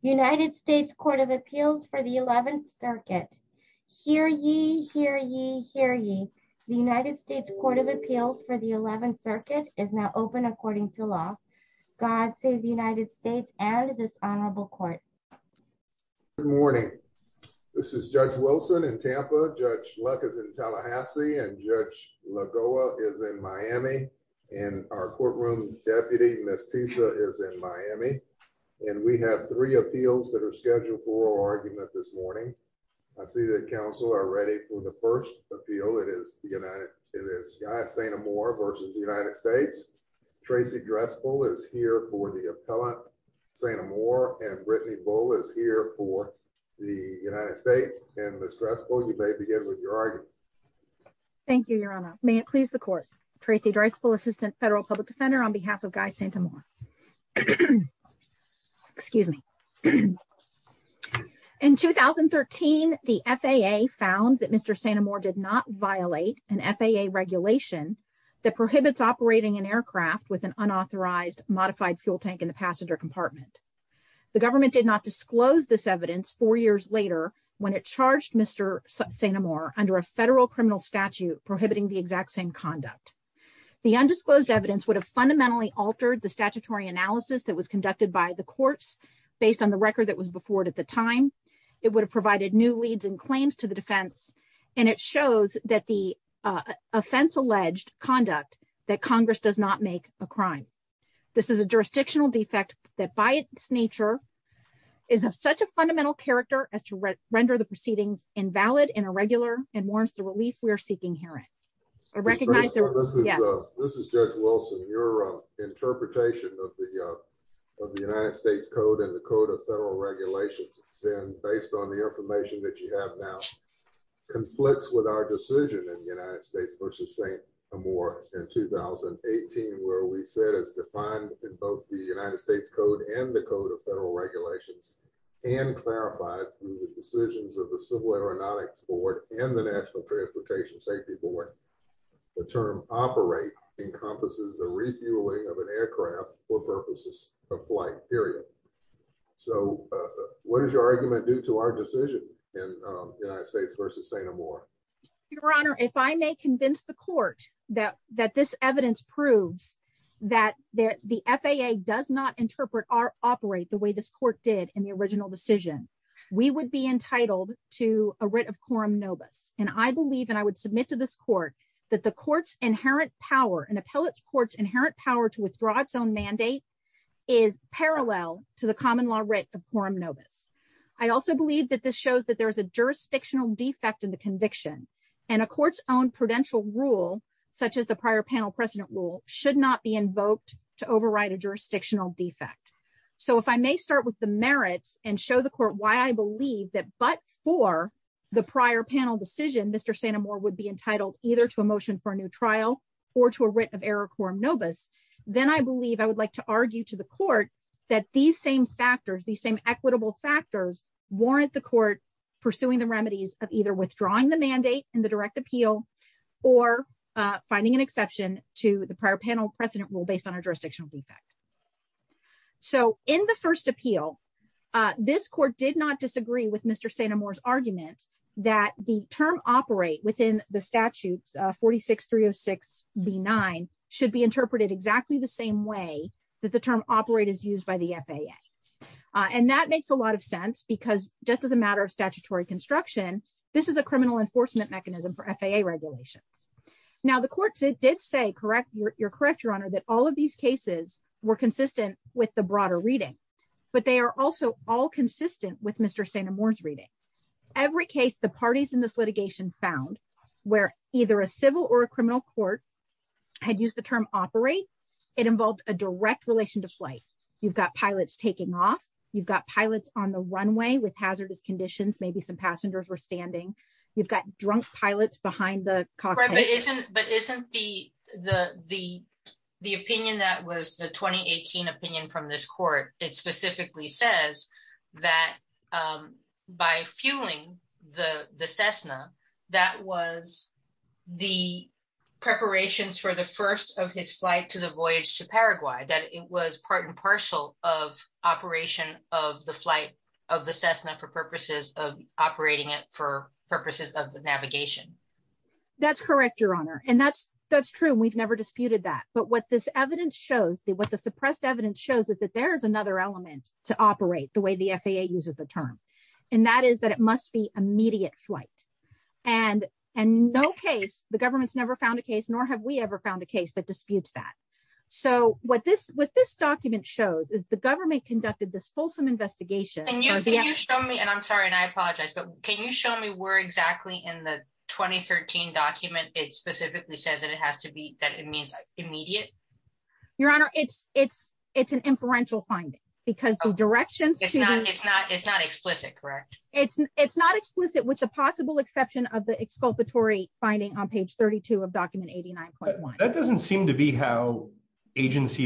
United States Court of Appeals for the 11th Circuit. Hear ye, hear ye, hear ye. The United States Court of Appeals for the 11th Circuit is now open according to law. God save the United States and this honorable court. Good morning. This is Judge Wilson in Tampa, Judge Luck is in Tallahassee, and Judge Lagoa is in Miami, and our courtroom deputy, Ms. Tisa, is in Miami. And we have three appeals that are scheduled for our argument this morning. I see that counsel are ready for the first appeal. It is Guy St. Amour v. United States. Tracy Drespel is here for the appellant, St. Amour, and Brittany Bull is here for the United States. And Ms. Drespel, you may begin with your argument. Thank you, Your Honor. May it please the court. Tracy Drespel, Assistant Federal Public Defender, on behalf of Guy St. Amour. Excuse me. In 2013, the FAA found that Mr. St. Amour did not violate an FAA regulation that prohibits operating an aircraft with an unauthorized modified fuel tank in the passenger compartment. The government did not disclose this evidence four years later when it charged Mr. St. Amour under a federal criminal statute prohibiting the exact same conduct. The undisclosed evidence would have fundamentally altered the statutory analysis that was conducted by the courts based on the record that was before it at the time. It would have provided new leads and claims to the defense. And it shows that the offense-alleged conduct that Congress does not make a crime. This is a jurisdictional defect that by its nature is of such a fundamental character as to render the proceedings invalid and irregular and warrants the relief we are seeking herein. I recognize that... This is Judge Wilson. Your interpretation of the United States Code and the Code of Federal Regulations, then based on the information that you have now, conflicts with our decision in the United States v. St. Amour in 2018, where we said as defined in both the United States Code and the Code of Federal Regulations and clarified through the decisions of the Civil Aeronautics Board and the National Transportation Safety Board, the term operate encompasses the refueling of an aircraft for purposes of flight, period. So what does your argument do to our decision in the United States v. St. Amour? Your Honor, if I may convince the court that this evidence proves that the FAA does not interpret or operate the way this court did in the original decision, we would be entitled to a writ of quorum nobis. And I believe, and I would submit to this court, that the court's inherent power, an appellate court's inherent power to withdraw its own mandate is parallel to the common law writ of quorum nobis. I also believe that this shows that there is a jurisdictional defect in the conviction and a court's own prudential rule, such as the prior panel precedent rule, should not be invoked to override a jurisdictional defect. So if I may start with the merits and show the court why I believe that but for the prior panel decision, Mr. St. Amour would be entitled either to a motion for a new trial or to a writ of error quorum nobis, then I believe I would like to argue to the court that these same factors, these same equitable factors, warrant the court pursuing the remedies of either withdrawing the mandate in the direct appeal or finding an exception to the prior panel precedent rule based on a jurisdictional defect. So in the first appeal, this court did not disagree with Mr. St. Amour's argument that the term operate within the statutes 46306B9 should be interpreted exactly the same way that the term operate is used by the FAA. And that makes a lot of sense because just as a matter of statutory construction, this is a criminal enforcement mechanism for FAA regulations. Now the court did say, correct, you're correct your honor, that all of these cases were consistent with the broader reading, but they are also all consistent with Mr. St. Amour's reading. Every case the parties in this litigation found where either a civil or a criminal court had used the term operate, it involved a direct relation to flight. You've got pilots taking off, you've got pilots on the runway with hazardous conditions, maybe some passengers were standing, you've got drunk pilots behind the cockpit. But isn't the opinion that was the 2018 opinion from this court, it specifically says that by fueling the Cessna, that was the preparations for the first of his flight to the voyage to Paraguay, that it was part and parcel of operation of the Cessna for purposes of operating it for purposes of the navigation. That's correct, your honor. And that's true, we've never disputed that. But what this evidence shows, what the suppressed evidence shows is that there is another element to operate the way the FAA uses the term. And that is that it must be immediate flight. And in no case, the government's never found a case, nor have we ever found a case that disputes that. So what this document shows is the government conducted this and I'm sorry, and I apologize, but can you show me where exactly in the 2013 document, it specifically says that it has to be that it means immediate? Your honor, it's an inferential finding, because the directions, it's not explicit, correct? It's not explicit with the possible exception of the exculpatory finding on page 32 of document 89.1. That doesn't seem to an agency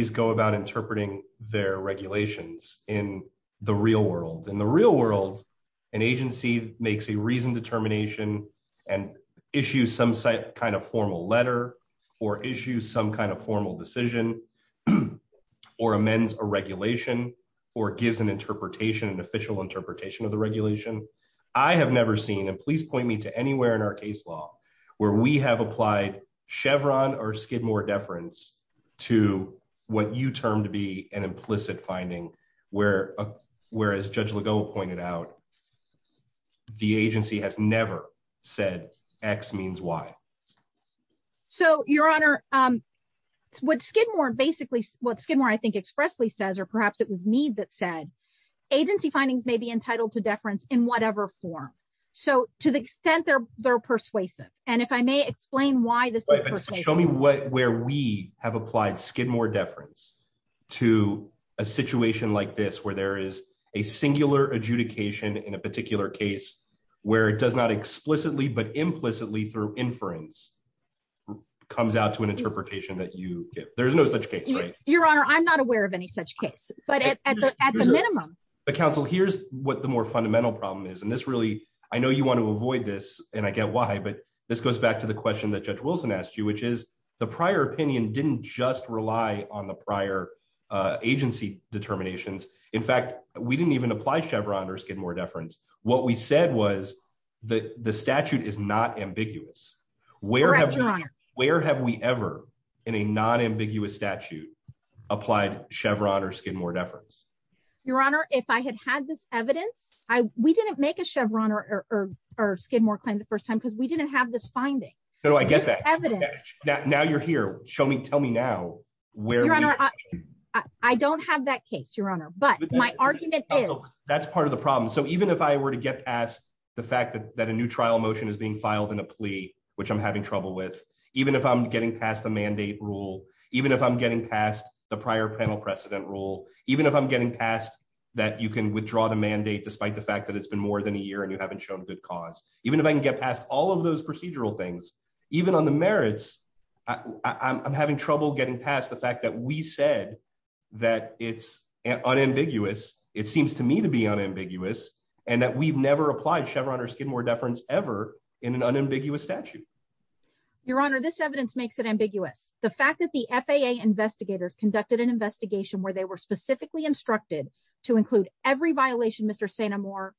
makes a reasoned determination, and issue some site kind of formal letter, or issue some kind of formal decision, or amends a regulation, or gives an interpretation, an official interpretation of the regulation. I have never seen and please point me to anywhere in our case law, where we have applied Chevron or Skidmore deference to what you term to be an implicit finding, whereas Judge Legault pointed out, the agency has never said X means Y. So your honor, what Skidmore basically, what Skidmore I think expressly says, or perhaps it was me that said, agency findings may be entitled to deference in whatever form. So to the extent they're persuasive, and if I may explain why this is persuasive. Show me where we have applied Skidmore deference to a situation like this, where there is a singular adjudication in a particular case, where it does not explicitly, but implicitly through inference, comes out to an interpretation that you give. There's no such case, right? Your honor, I'm not aware of any such case, but at the minimum. But counsel, here's what the more fundamental problem is, and this really, I know you want to avoid this, and I get why, but this goes back to the question that Judge the prior opinion didn't just rely on the prior agency determinations. In fact, we didn't even apply Chevron or Skidmore deference. What we said was that the statute is not ambiguous. Where have we ever in a non-ambiguous statute applied Chevron or Skidmore deference? Your honor, if I had had this evidence, we didn't make a Chevron or Skidmore claim the first time, because we didn't have this finding. No, I get that. Now you're here. Tell me now. I don't have that case, your honor, but my argument is. That's part of the problem. So even if I were to get past the fact that a new trial motion is being filed in a plea, which I'm having trouble with, even if I'm getting past the mandate rule, even if I'm getting past the prior panel precedent rule, even if I'm getting past that you can withdraw the mandate despite the fact that it's been more than a year and you those procedural things, even on the merits, I'm having trouble getting past the fact that we said that it's unambiguous. It seems to me to be unambiguous and that we've never applied Chevron or Skidmore deference ever in an unambiguous statute. Your honor, this evidence makes it ambiguous. The fact that the FAA investigators conducted an investigation where they were specifically instructed to include every violation Mr. Sanamore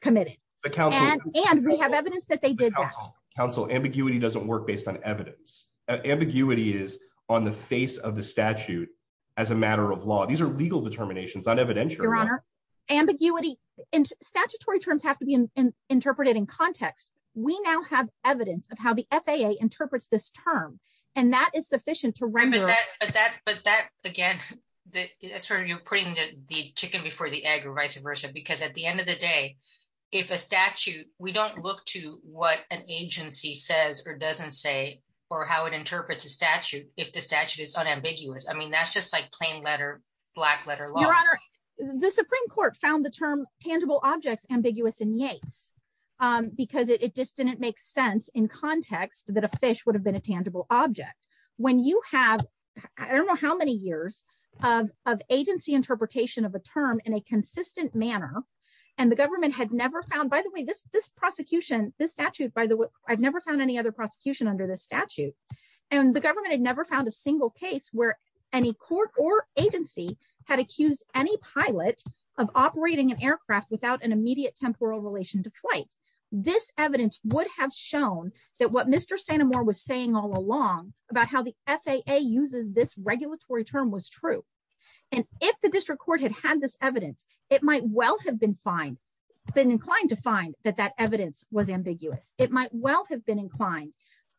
committed and we have evidence that they did that. Counsel, ambiguity doesn't work based on evidence. Ambiguity is on the face of the statute as a matter of law. These are legal determinations, not evidential. Your honor, ambiguity and statutory terms have to be interpreted in context. We now have evidence of how the FAA interprets this term and that is sufficient to remember that. But that but that again, that sort of you're putting the chicken before the egg or vice versa because at the end of the day, if a statute we don't look to what an agency says or doesn't say or how it interprets a statute if the statute is unambiguous. I mean that's just like plain letter, black letter law. Your honor, the Supreme Court found the term tangible objects ambiguous in Yates because it just didn't make sense in context that a fish would have been a tangible object. When you have I don't know how many years of agency interpretation of a term in a consistent manner and the government had never found by the way this this prosecution this statute by the way I've never found any other prosecution under this statute and the government had never found a single case where any court or agency had accused any pilot of operating an aircraft without an immediate temporal relation to flight. This evidence would have shown that what Mr. Sanamore was saying all along about how the FAA uses this regulatory term was true and if the district court had had this evidence it might well have been fine been inclined to find that that evidence was ambiguous. It might well have been inclined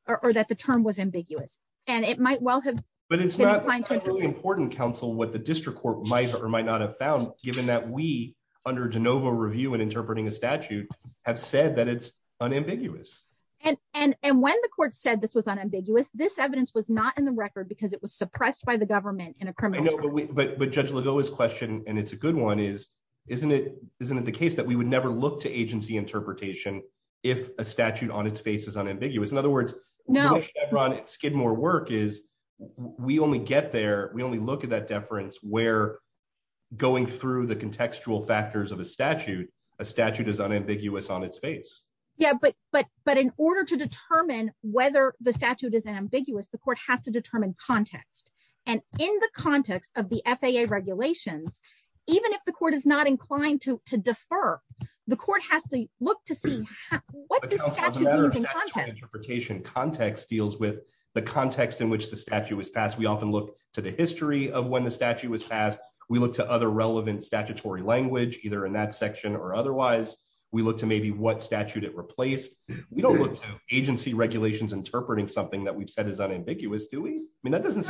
or that the term was ambiguous and it might well have but it's not really important counsel what the district court might or might not have found given that we under de novo review and interpreting a statute have said that it's unambiguous and and and when the court said this was unambiguous this evidence was not in the record because it was suppressed by the government in a criminal way but but Judge Legault's question and it's a good one is isn't it isn't it the case that we would never look to agency interpretation if a statute on its face is unambiguous in other words no Chevron Skidmore work is we only get there we only look at that deference where going through the contextual factors of a statute a statute is unambiguous on its face yeah but but but in order to determine whether the statute is ambiguous the court has to determine context and in the context of the FAA regulations even if the court is not inclined to to defer the court has to look to see what interpretation context deals with the context in which the statute was passed we often look to the history of when the statute was passed we look to other relevant statutory language either in that section or otherwise we look to maybe what statute it replaced we don't look to regulations interpreting something that we've said is unambiguous do we I mean that doesn't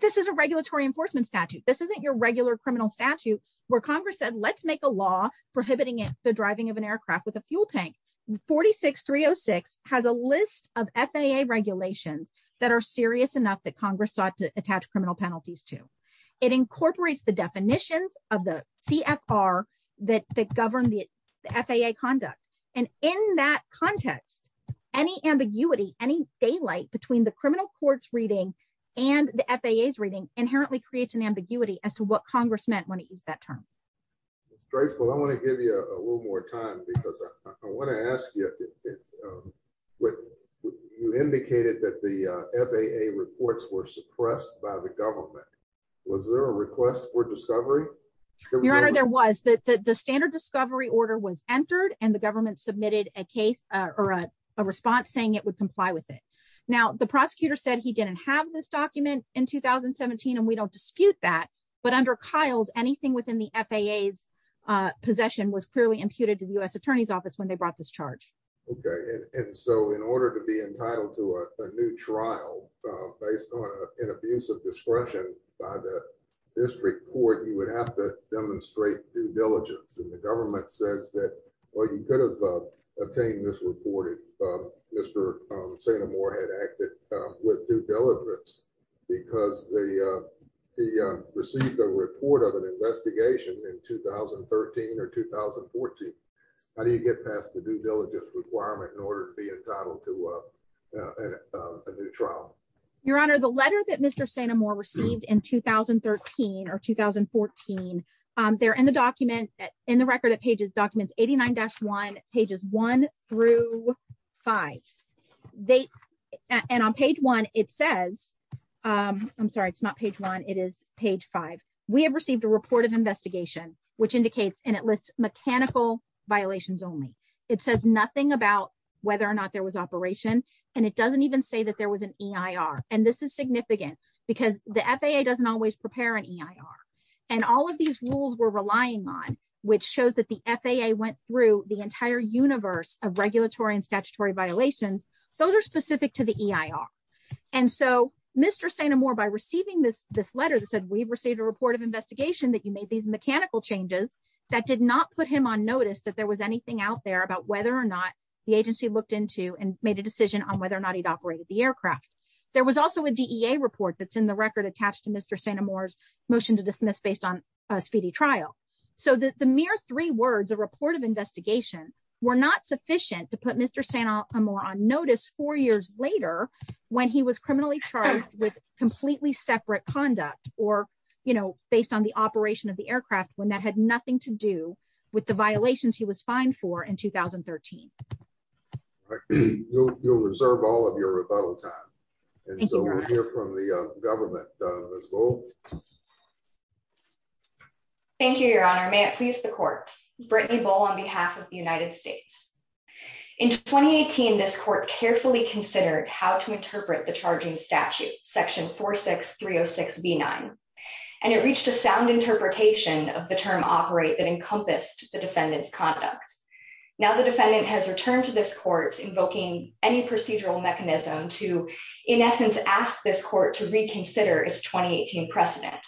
this is a regulatory enforcement statute this isn't your regular criminal statute where Congress said let's make a law prohibiting the driving of an aircraft with a fuel tank 46 306 has a list of FAA regulations that are serious enough that Congress sought to attach criminal penalties to it incorporates the definitions of the CFR that govern the FAA conduct and in that context any ambiguity any daylight between the criminal court's reading and the FAA's reading inherently creates an ambiguity as to what Congress meant when it used that term it's graceful I want to give you a little more time because I want to ask you with you indicated that the FAA reports were suppressed by the government was there a request for discovery your honor there was that the standard discovery order was entered and the government submitted a case or a response saying it would comply with it now the prosecutor said he didn't have this document in 2017 and we don't dispute that but under Kyle's anything within the FAA's possession was clearly imputed to the U.S. Attorney's Office when they brought this charge okay and so in order to be entitled to a new trial based on an abuse of discretion by the district court you would have to demonstrate due diligence and the government says that well you could have obtained this reported Mr. Saint Amour had acted with due diligence because the he received a report of an investigation in 2013 or 2014 how do you get past the due diligence requirement in order to be entitled to a new trial your honor the letter that Mr. Saint Amour received in 2013 or 2014 they're in the document in the record at pages documents 89-1 pages 1 through 5 they and on page 1 it says I'm sorry it's not page 1 it is page 5 we have received a report of investigation which indicates and it lists mechanical violations only it says nothing about whether or not there was operation and it doesn't even say that there was an EIR and this is significant because the FAA doesn't always prepare an EIR and all of these rules we're relying on which shows that the FAA went through the entire universe of regulatory and statutory violations those are specific to the EIR and so Mr. Saint Amour by receiving this this letter that said we've received a report of investigation that you made these mechanical changes that did not put him on notice that there was anything out there about whether or not the agency looked into and made a decision on whether or not he'd operated the aircraft there was also a DEA report that's in the record attached to Mr. Saint Amour's motion to dismiss based on a speedy trial so that the mere three words a report of investigation were not sufficient to put Mr. Saint Amour on notice four years later when he was criminally charged with completely separate conduct or you know based on the operation of the aircraft when that had nothing to do with the violations he was fined for in 2013. You'll reserve all of your rebuttal time and so we'll hear from the government. Thank you your honor may it please the court Brittany Bull on behalf of the United States in 2018 this court carefully considered how to interpret the charging statute section 46306b9 and it reached a sound interpretation of the term operate that encompassed the defendant's conduct now the defendant has returned to this court invoking any procedural mechanism to in essence ask this court to reconsider its 2018 precedent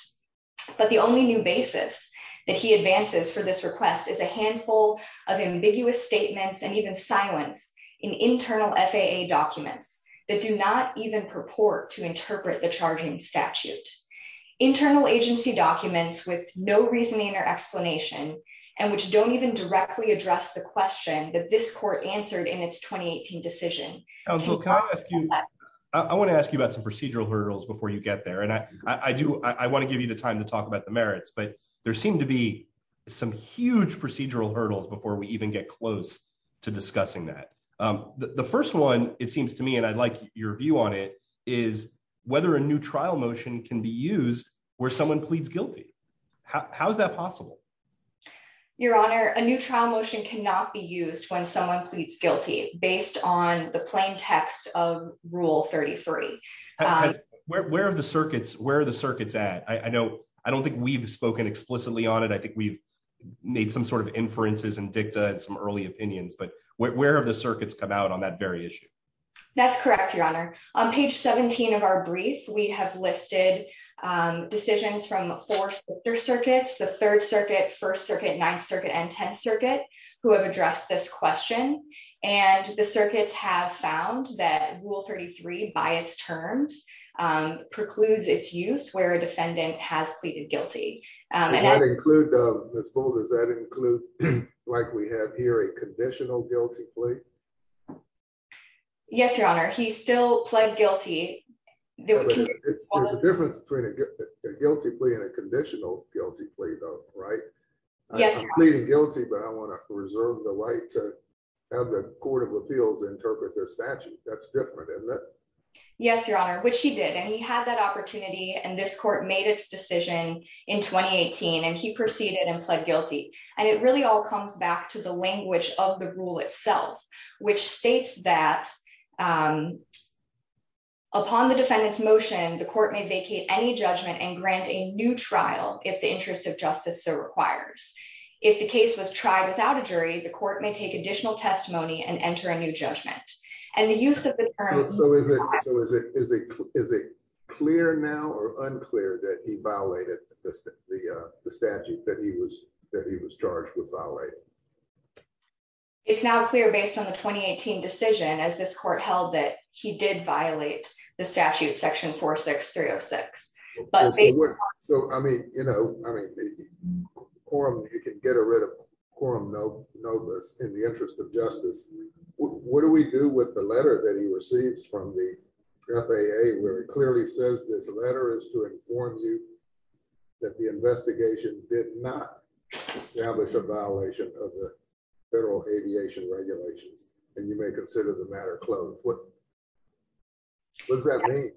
but the only new basis that he advances for this request is a handful of ambiguous statements and even silence in internal FAA documents that do not even purport to interpret the charging statute internal agency documents with no reasoning or explanation and which don't even directly address the question that this court answered in its 2018 decision. Counsel can I ask you I want to ask you about some procedural hurdles before you get there and I I do I want to give you the time to talk about the merits but there seem to be some huge procedural hurdles before we even get close to discussing that the first one it seems to me and I'd like your view on it is whether a new trial motion can be used where someone pleads guilty how is that possible? Your honor a new trial motion cannot be used when someone pleads guilty based on the plain text of rule 3040. Where are the circuits where are the circuits at I know I don't think we've spoken explicitly on it I think we've made some sort of inferences and dicta and some early opinions but where have the circuits come out on that very issue that's correct your honor on page 17 of our brief we have listed decisions from the four circuits the third circuit first circuit ninth circuit and tenth circuit who have addressed this question and the circuits have found that rule 33 by its terms precludes its use where a defendant has pleaded guilty does that include like we have here a conditional guilty plea yes your honor he still pled guilty there's a difference between a guilty plea and a conditional guilty plea though right yes pleading guilty but I want to reserve the right to have the court of appeals interpret their statute that's different isn't it yes your honor which he did and he had that opportunity and this court made its decision in 2018 and he proceeded and pled guilty and it really all comes back to the language of the rule itself which states that um upon the defendant's motion the court may vacate any judgment and grant a new trial if the interest of justice so requires if the case was tried without a jury the court may take additional testimony and enter a new judgment and the use of the term so is it so is it is it is it clear now or unclear that he violated the the uh the statute that he was that he was charged with violating it's now clear based on the 2018 decision as this court held that he did violate the statute section 46306 but so I mean you know I mean the quorum you can get rid of quorum no notice in the interest of justice what do we do with the letter that he receives from the FAA where it clearly says this letter is to inform you that the investigation did not establish a violation of the federal aviation regulations and you may consider the matter closed what what does that mean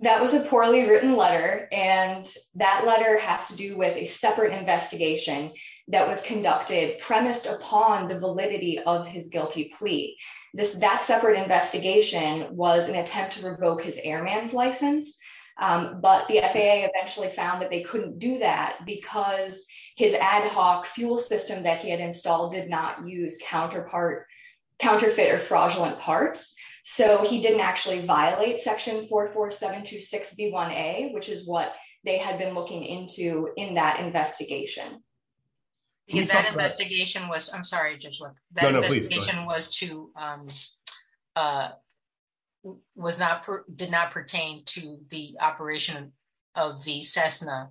that was a poorly written letter and that letter has to do with a separate investigation that was conducted premised upon the validity of his guilty plea this that separate investigation was an attempt to revoke his airman's license but the FAA eventually found that they couldn't do that because his ad hoc fuel system that he had installed did not use counterpart counterfeit or fraudulent parts so he didn't actually violate section 44726b1a which is what they had been looking into in that investigation because that investigation was I'm sorry just look that was to um uh was not did not pertain to the operation of the Cessna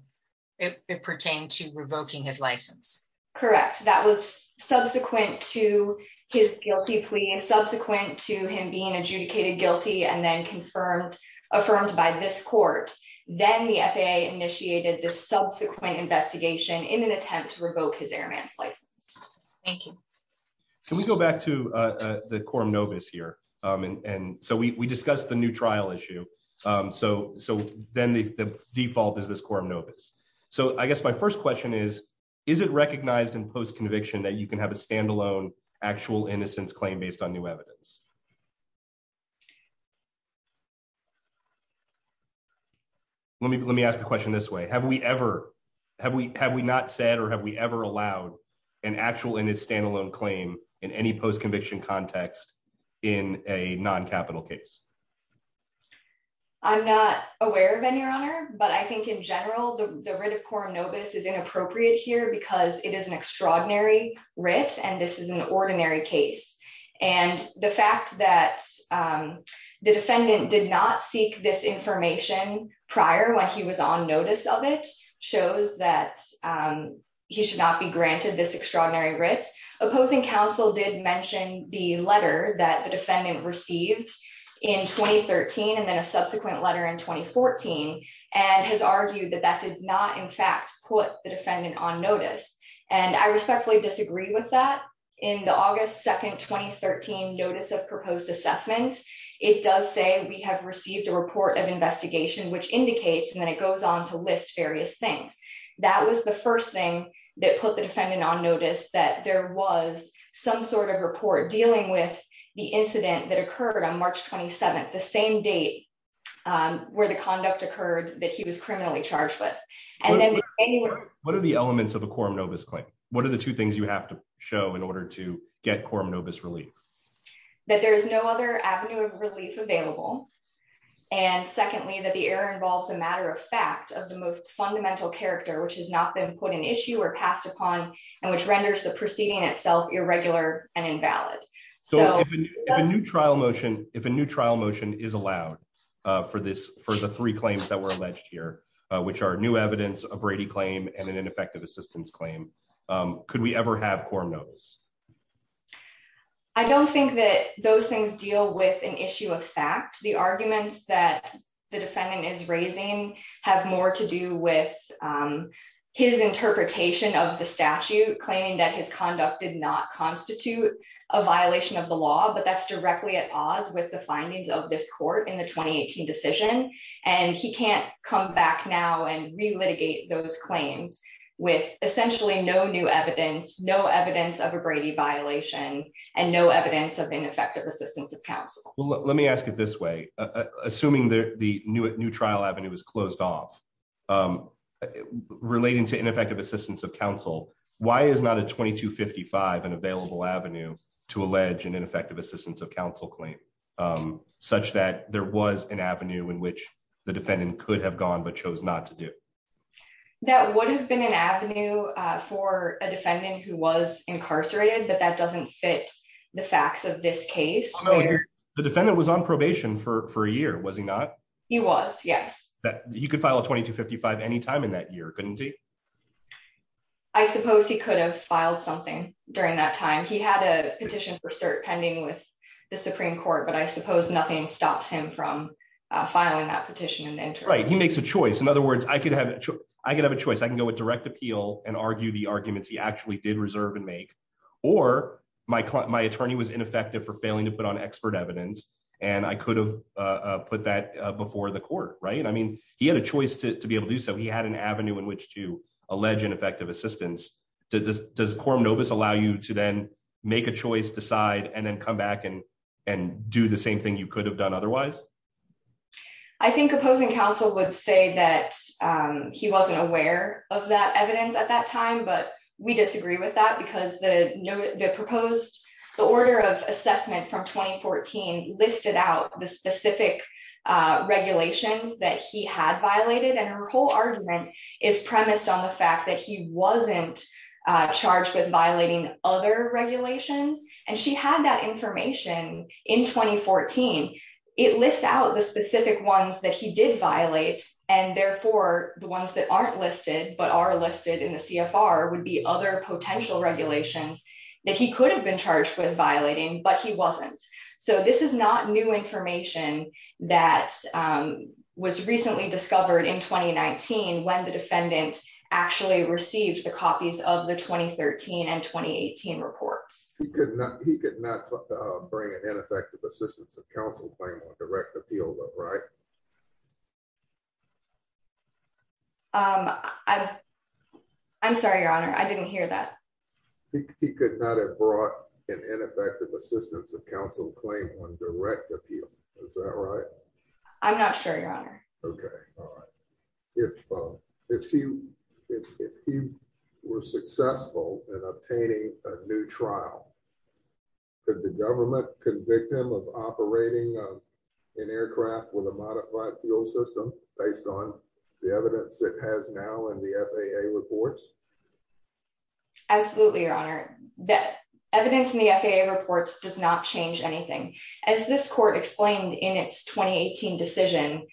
it pertained to revoking his license correct that was subsequent to his guilty plea and subsequent to him being adjudicated guilty and then confirmed affirmed by this court then the FAA initiated this subsequent investigation in an attempt to revoke his airman's license thank you can we go back to uh the quorum novus here um and and so we we discussed the new trial issue um so so then the the default is this quorum novus so I guess my first question is is it recognized in post-conviction that you can have a standalone actual innocence claim based on new evidence let me let me ask the question this way have we ever have we have we not said or have we ever allowed an actual in its standalone claim in any post-conviction context in a non-capital case I'm not aware of any honor but I think in general the writ of quorum novus is inappropriate here because it is an extraordinary writ and this is an ordinary case and the fact that um the defendant did not seek this information prior when he was on notice of it shows that um he should not be granted this extraordinary writ opposing counsel did mention the letter that the defendant received in 2013 and then a subsequent letter in 2014 and has argued that that did not in fact put the defendant on notice and I respectfully disagree with that in the august 2nd 2013 notice of proposed assessment it does say we have received a report of investigation which indicates and then it goes on to list various things that was the first thing that put the defendant on notice that there was some sort of report dealing with the incident that occurred on March 27th the same date where the conduct occurred that he was criminally charged with and then what are the elements of a quorum novus claim what are the two things you have to show in order to get quorum novus relief that there is no other avenue of relief available and secondly that the error involves a matter of fact of the most fundamental character which has not been put in issue or passed upon and which renders the proceeding itself irregular and invalid so if a new trial motion if a new trial motion is allowed uh for this for the three claims that were alleged here which are new evidence a brady claim and an ineffective assistance claim um could we ever have quorum notice I don't think that those things deal with an issue of fact the arguments that the his conduct did not constitute a violation of the law but that's directly at odds with the findings of this court in the 2018 decision and he can't come back now and re-litigate those claims with essentially no new evidence no evidence of a brady violation and no evidence of ineffective assistance of counsel well let me ask it this way assuming the new trial avenue is closed off um relating to ineffective assistance of counsel why is not a 2255 an available avenue to allege an ineffective assistance of counsel claim um such that there was an avenue in which the defendant could have gone but chose not to do that would have been an avenue for a defendant who was incarcerated but that doesn't fit the facts of this case the defendant was on probation for any time in that year couldn't he I suppose he could have filed something during that time he had a petition for cert pending with the supreme court but I suppose nothing stops him from filing that petition and right he makes a choice in other words I could have I could have a choice I can go with direct appeal and argue the arguments he actually did reserve and make or my my attorney was ineffective for failing to put on expert evidence and I could have put that before the court right I mean he had a choice to be able to do so he had an avenue in which to allege ineffective assistance does does quorum novus allow you to then make a choice decide and then come back and and do the same thing you could have done otherwise I think opposing counsel would say that um he wasn't aware of that evidence at that time but we disagree with that the proposed the order of assessment from 2014 listed out the specific regulations that he had violated and her whole argument is premised on the fact that he wasn't charged with violating other regulations and she had that information in 2014 it lists out the specific ones that he did violate and therefore the ones that aren't listed but are listed in the CFR would be other potential regulations that he could have been charged with violating but he wasn't so this is not new information that um was recently discovered in 2019 when the defendant actually received the copies of the 2013 and 2018 reports he could not he could not bring an ineffective assistance of he could not have brought an ineffective assistance of counsel claim on direct appeal is that right I'm not sure your honor okay all right if um if you if you were successful in obtaining a new trial could the government convict him of operating an aircraft with a that evidence in the FAA reports does not change anything as this court explained in its 2018 decision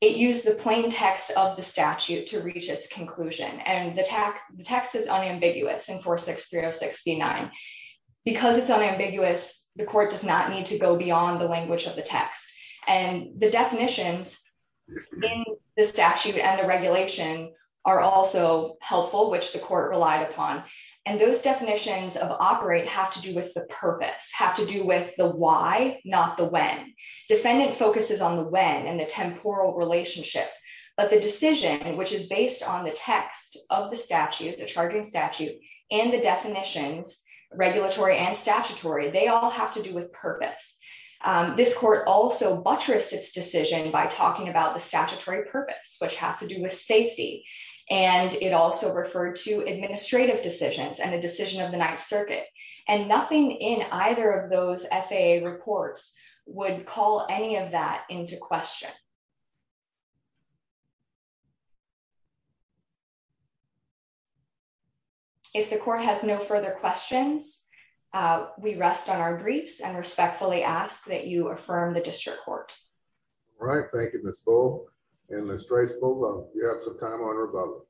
it used the plain text of the statute to reach its conclusion and the tax the text is unambiguous in 463069 because it's unambiguous the court does not need to go beyond the language of the text and the definitions in the statute and the regulation are also helpful which the court relied upon and those definitions of operate have to do with the purpose have to do with the why not the when defendant focuses on the when and the temporal relationship but the decision which is based on the text of the statute the charging statute and the definitions regulatory and statutory they all have to do with purpose this court also buttressed its decision by talking about the statutory purpose which has to do with safety and it also referred to administrative decisions and the decision of the ninth circuit and nothing in either of those FAA reports would call any of that into question if the court has no further questions we rest on our briefs and respectfully ask that you let's try to pull up you have some time on rebuttal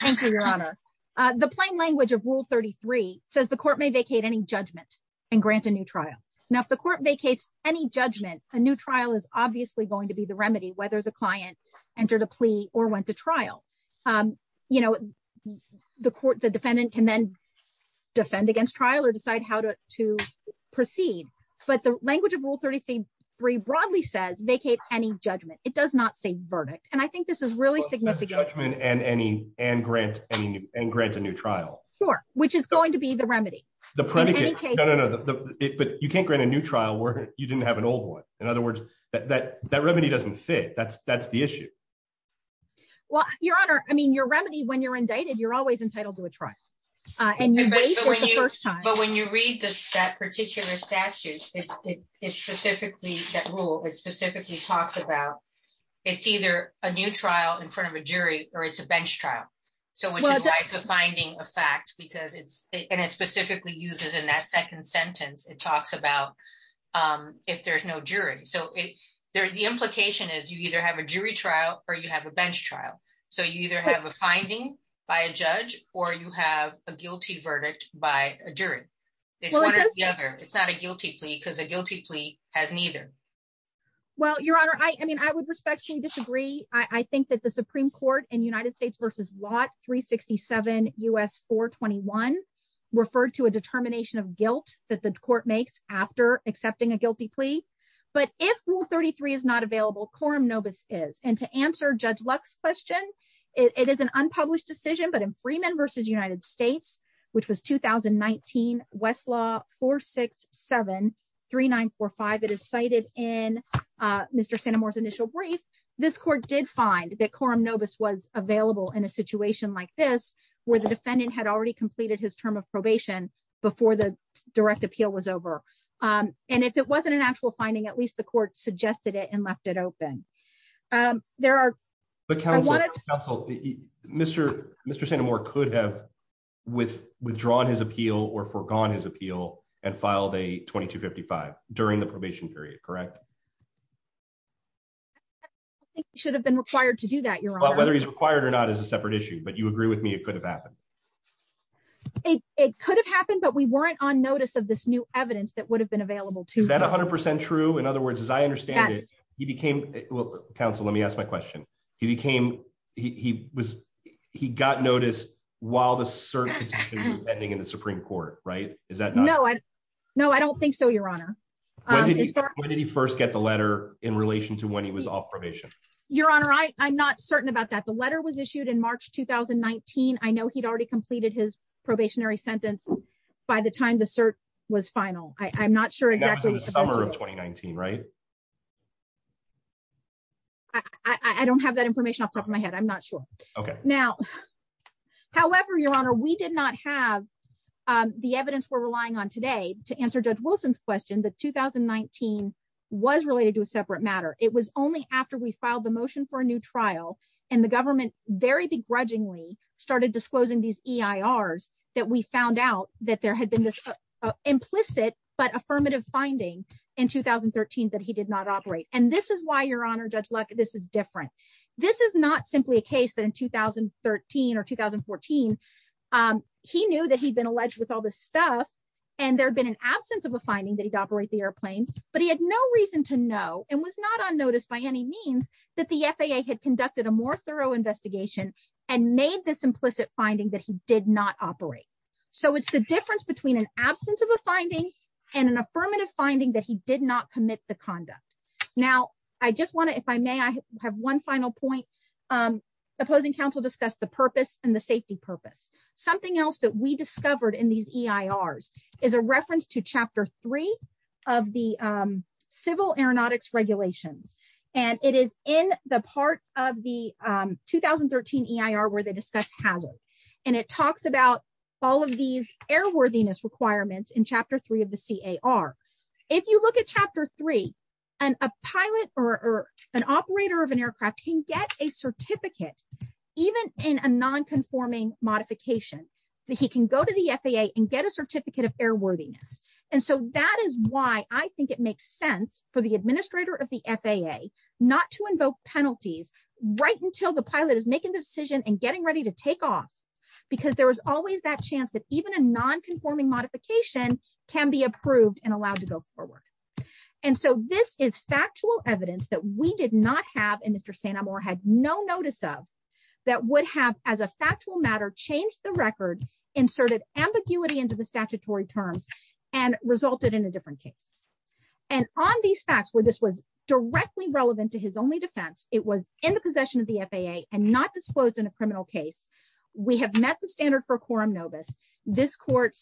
thank you your honor the plain language of rule 33 says the court may vacate any judgment and grant a new trial now if the court vacates any judgment a new trial is obviously going to be whether the client entered a plea or went to trial you know the court the defendant can then defend against trial or decide how to to proceed but the language of rule 33 broadly says vacate any judgment it does not say verdict and i think this is really significant judgment and any and grant any and grant a new trial sure which is going to be the remedy the predicate no no but you can't grant a new trial where you didn't have an old one in other words that that remedy doesn't fit that's that's the issue well your honor i mean your remedy when you're indicted you're always entitled to a trial uh and you wait for the first time but when you read this that particular statute it specifically that rule it specifically talks about it's either a new trial in front of a jury or it's a bench trial so which is life of finding a fact because and it specifically uses in that second sentence it talks about um if there's no jury so it there the implication is you either have a jury trial or you have a bench trial so you either have a finding by a judge or you have a guilty verdict by a jury it's one or the other it's not a guilty plea because a guilty plea has neither well your honor i i mean i would respectfully disagree i refer to a determination of guilt that the court makes after accepting a guilty plea but if rule 33 is not available quorum novus is and to answer judge luck's question it is an unpublished decision but in freeman versus united states which was 2019 westlaw 467 3945 it is cited in mr santa mora's initial brief this court did find that quorum novus was available in a situation like this where the defendant had already completed his term of probation before the direct appeal was over um and if it wasn't an actual finding at least the court suggested it and left it open um there are but council council mr mr santa mora could have with withdrawn his appeal or forgone his appeal and filed a 2255 during the probation period correct i think you should have been required to do that your honor whether he's required or not is a separate issue but you agree with me it could have happened it it could have happened but we weren't on notice of this new evidence that would have been available to that 100 true in other words as i understand it he became well council let me ask my question he became he was he got notice while the circuit is pending in the supreme court right is that no i no i don't think so your honor when did he start when did he first get the letter in relation to when he was off your honor i i'm not certain about that the letter was issued in march 2019 i know he'd already completed his probationary sentence by the time the cert was final i i'm not sure exactly the summer of 2019 right i i don't have that information off the top of my head i'm not sure okay now however your honor we did not have um the evidence we're relying on today to answer judge wilson's question that 2019 was related to a separate matter it was only after we filed the motion for a new trial and the government very begrudgingly started disclosing these eirs that we found out that there had been this implicit but affirmative finding in 2013 that he did not operate and this is why your honor judge luck this is different this is not simply a case that in 2013 or 2014 um he knew that he'd been alleged with all this stuff and there had been an absence of a finding that he'd operate the airplane but he had no reason to know and was not on notice by any means that the faa had conducted a more thorough investigation and made this implicit finding that he did not operate so it's the difference between an absence of a finding and an affirmative finding that he did not commit the conduct now i just want to if i may i have one final point um opposing council discussed the purpose and the safety purpose something else that we discovered in these eirs is a reference to chapter three of the um civil aeronautics regulations and it is in the part of the um 2013 eir where they discuss hazard and it talks about all of these airworthiness requirements in chapter three of the car if you look at chapter three and a pilot or an operator of an aircraft can get a certificate even in a non-conforming modification that he can go to the faa and get a certificate of airworthiness and so that is why i think it makes sense for the administrator of the faa not to invoke penalties right until the pilot is making the decision and getting ready to take off because there is always that chance that a non-conforming modification can be approved and allowed to go forward and so this is factual evidence that we did not have and mr santa more had no notice of that would have as a factual matter changed the record inserted ambiguity into the statutory terms and resulted in a different case and on these facts where this was directly relevant to his only defense it was in the possession of the faa and not disclosed in a criminal case we have met the standard for quorum this court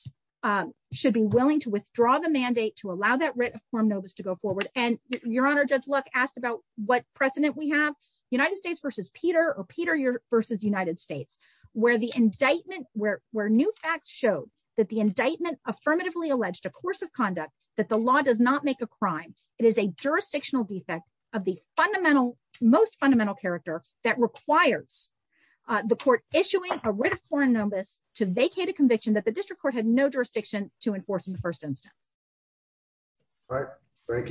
should be willing to withdraw the mandate to allow that writ of quorum to go forward and your honor judge luck asked about what precedent we have united states versus peter or peter versus united states where the indictment where where new facts showed that the indictment affirmatively alleged a course of conduct that the law does not make a crime it is a jurisdictional defect of the fundamental most fundamental character that requires the court issuing a conviction that the district court had no jurisdiction to enforce in the first instance all right thank you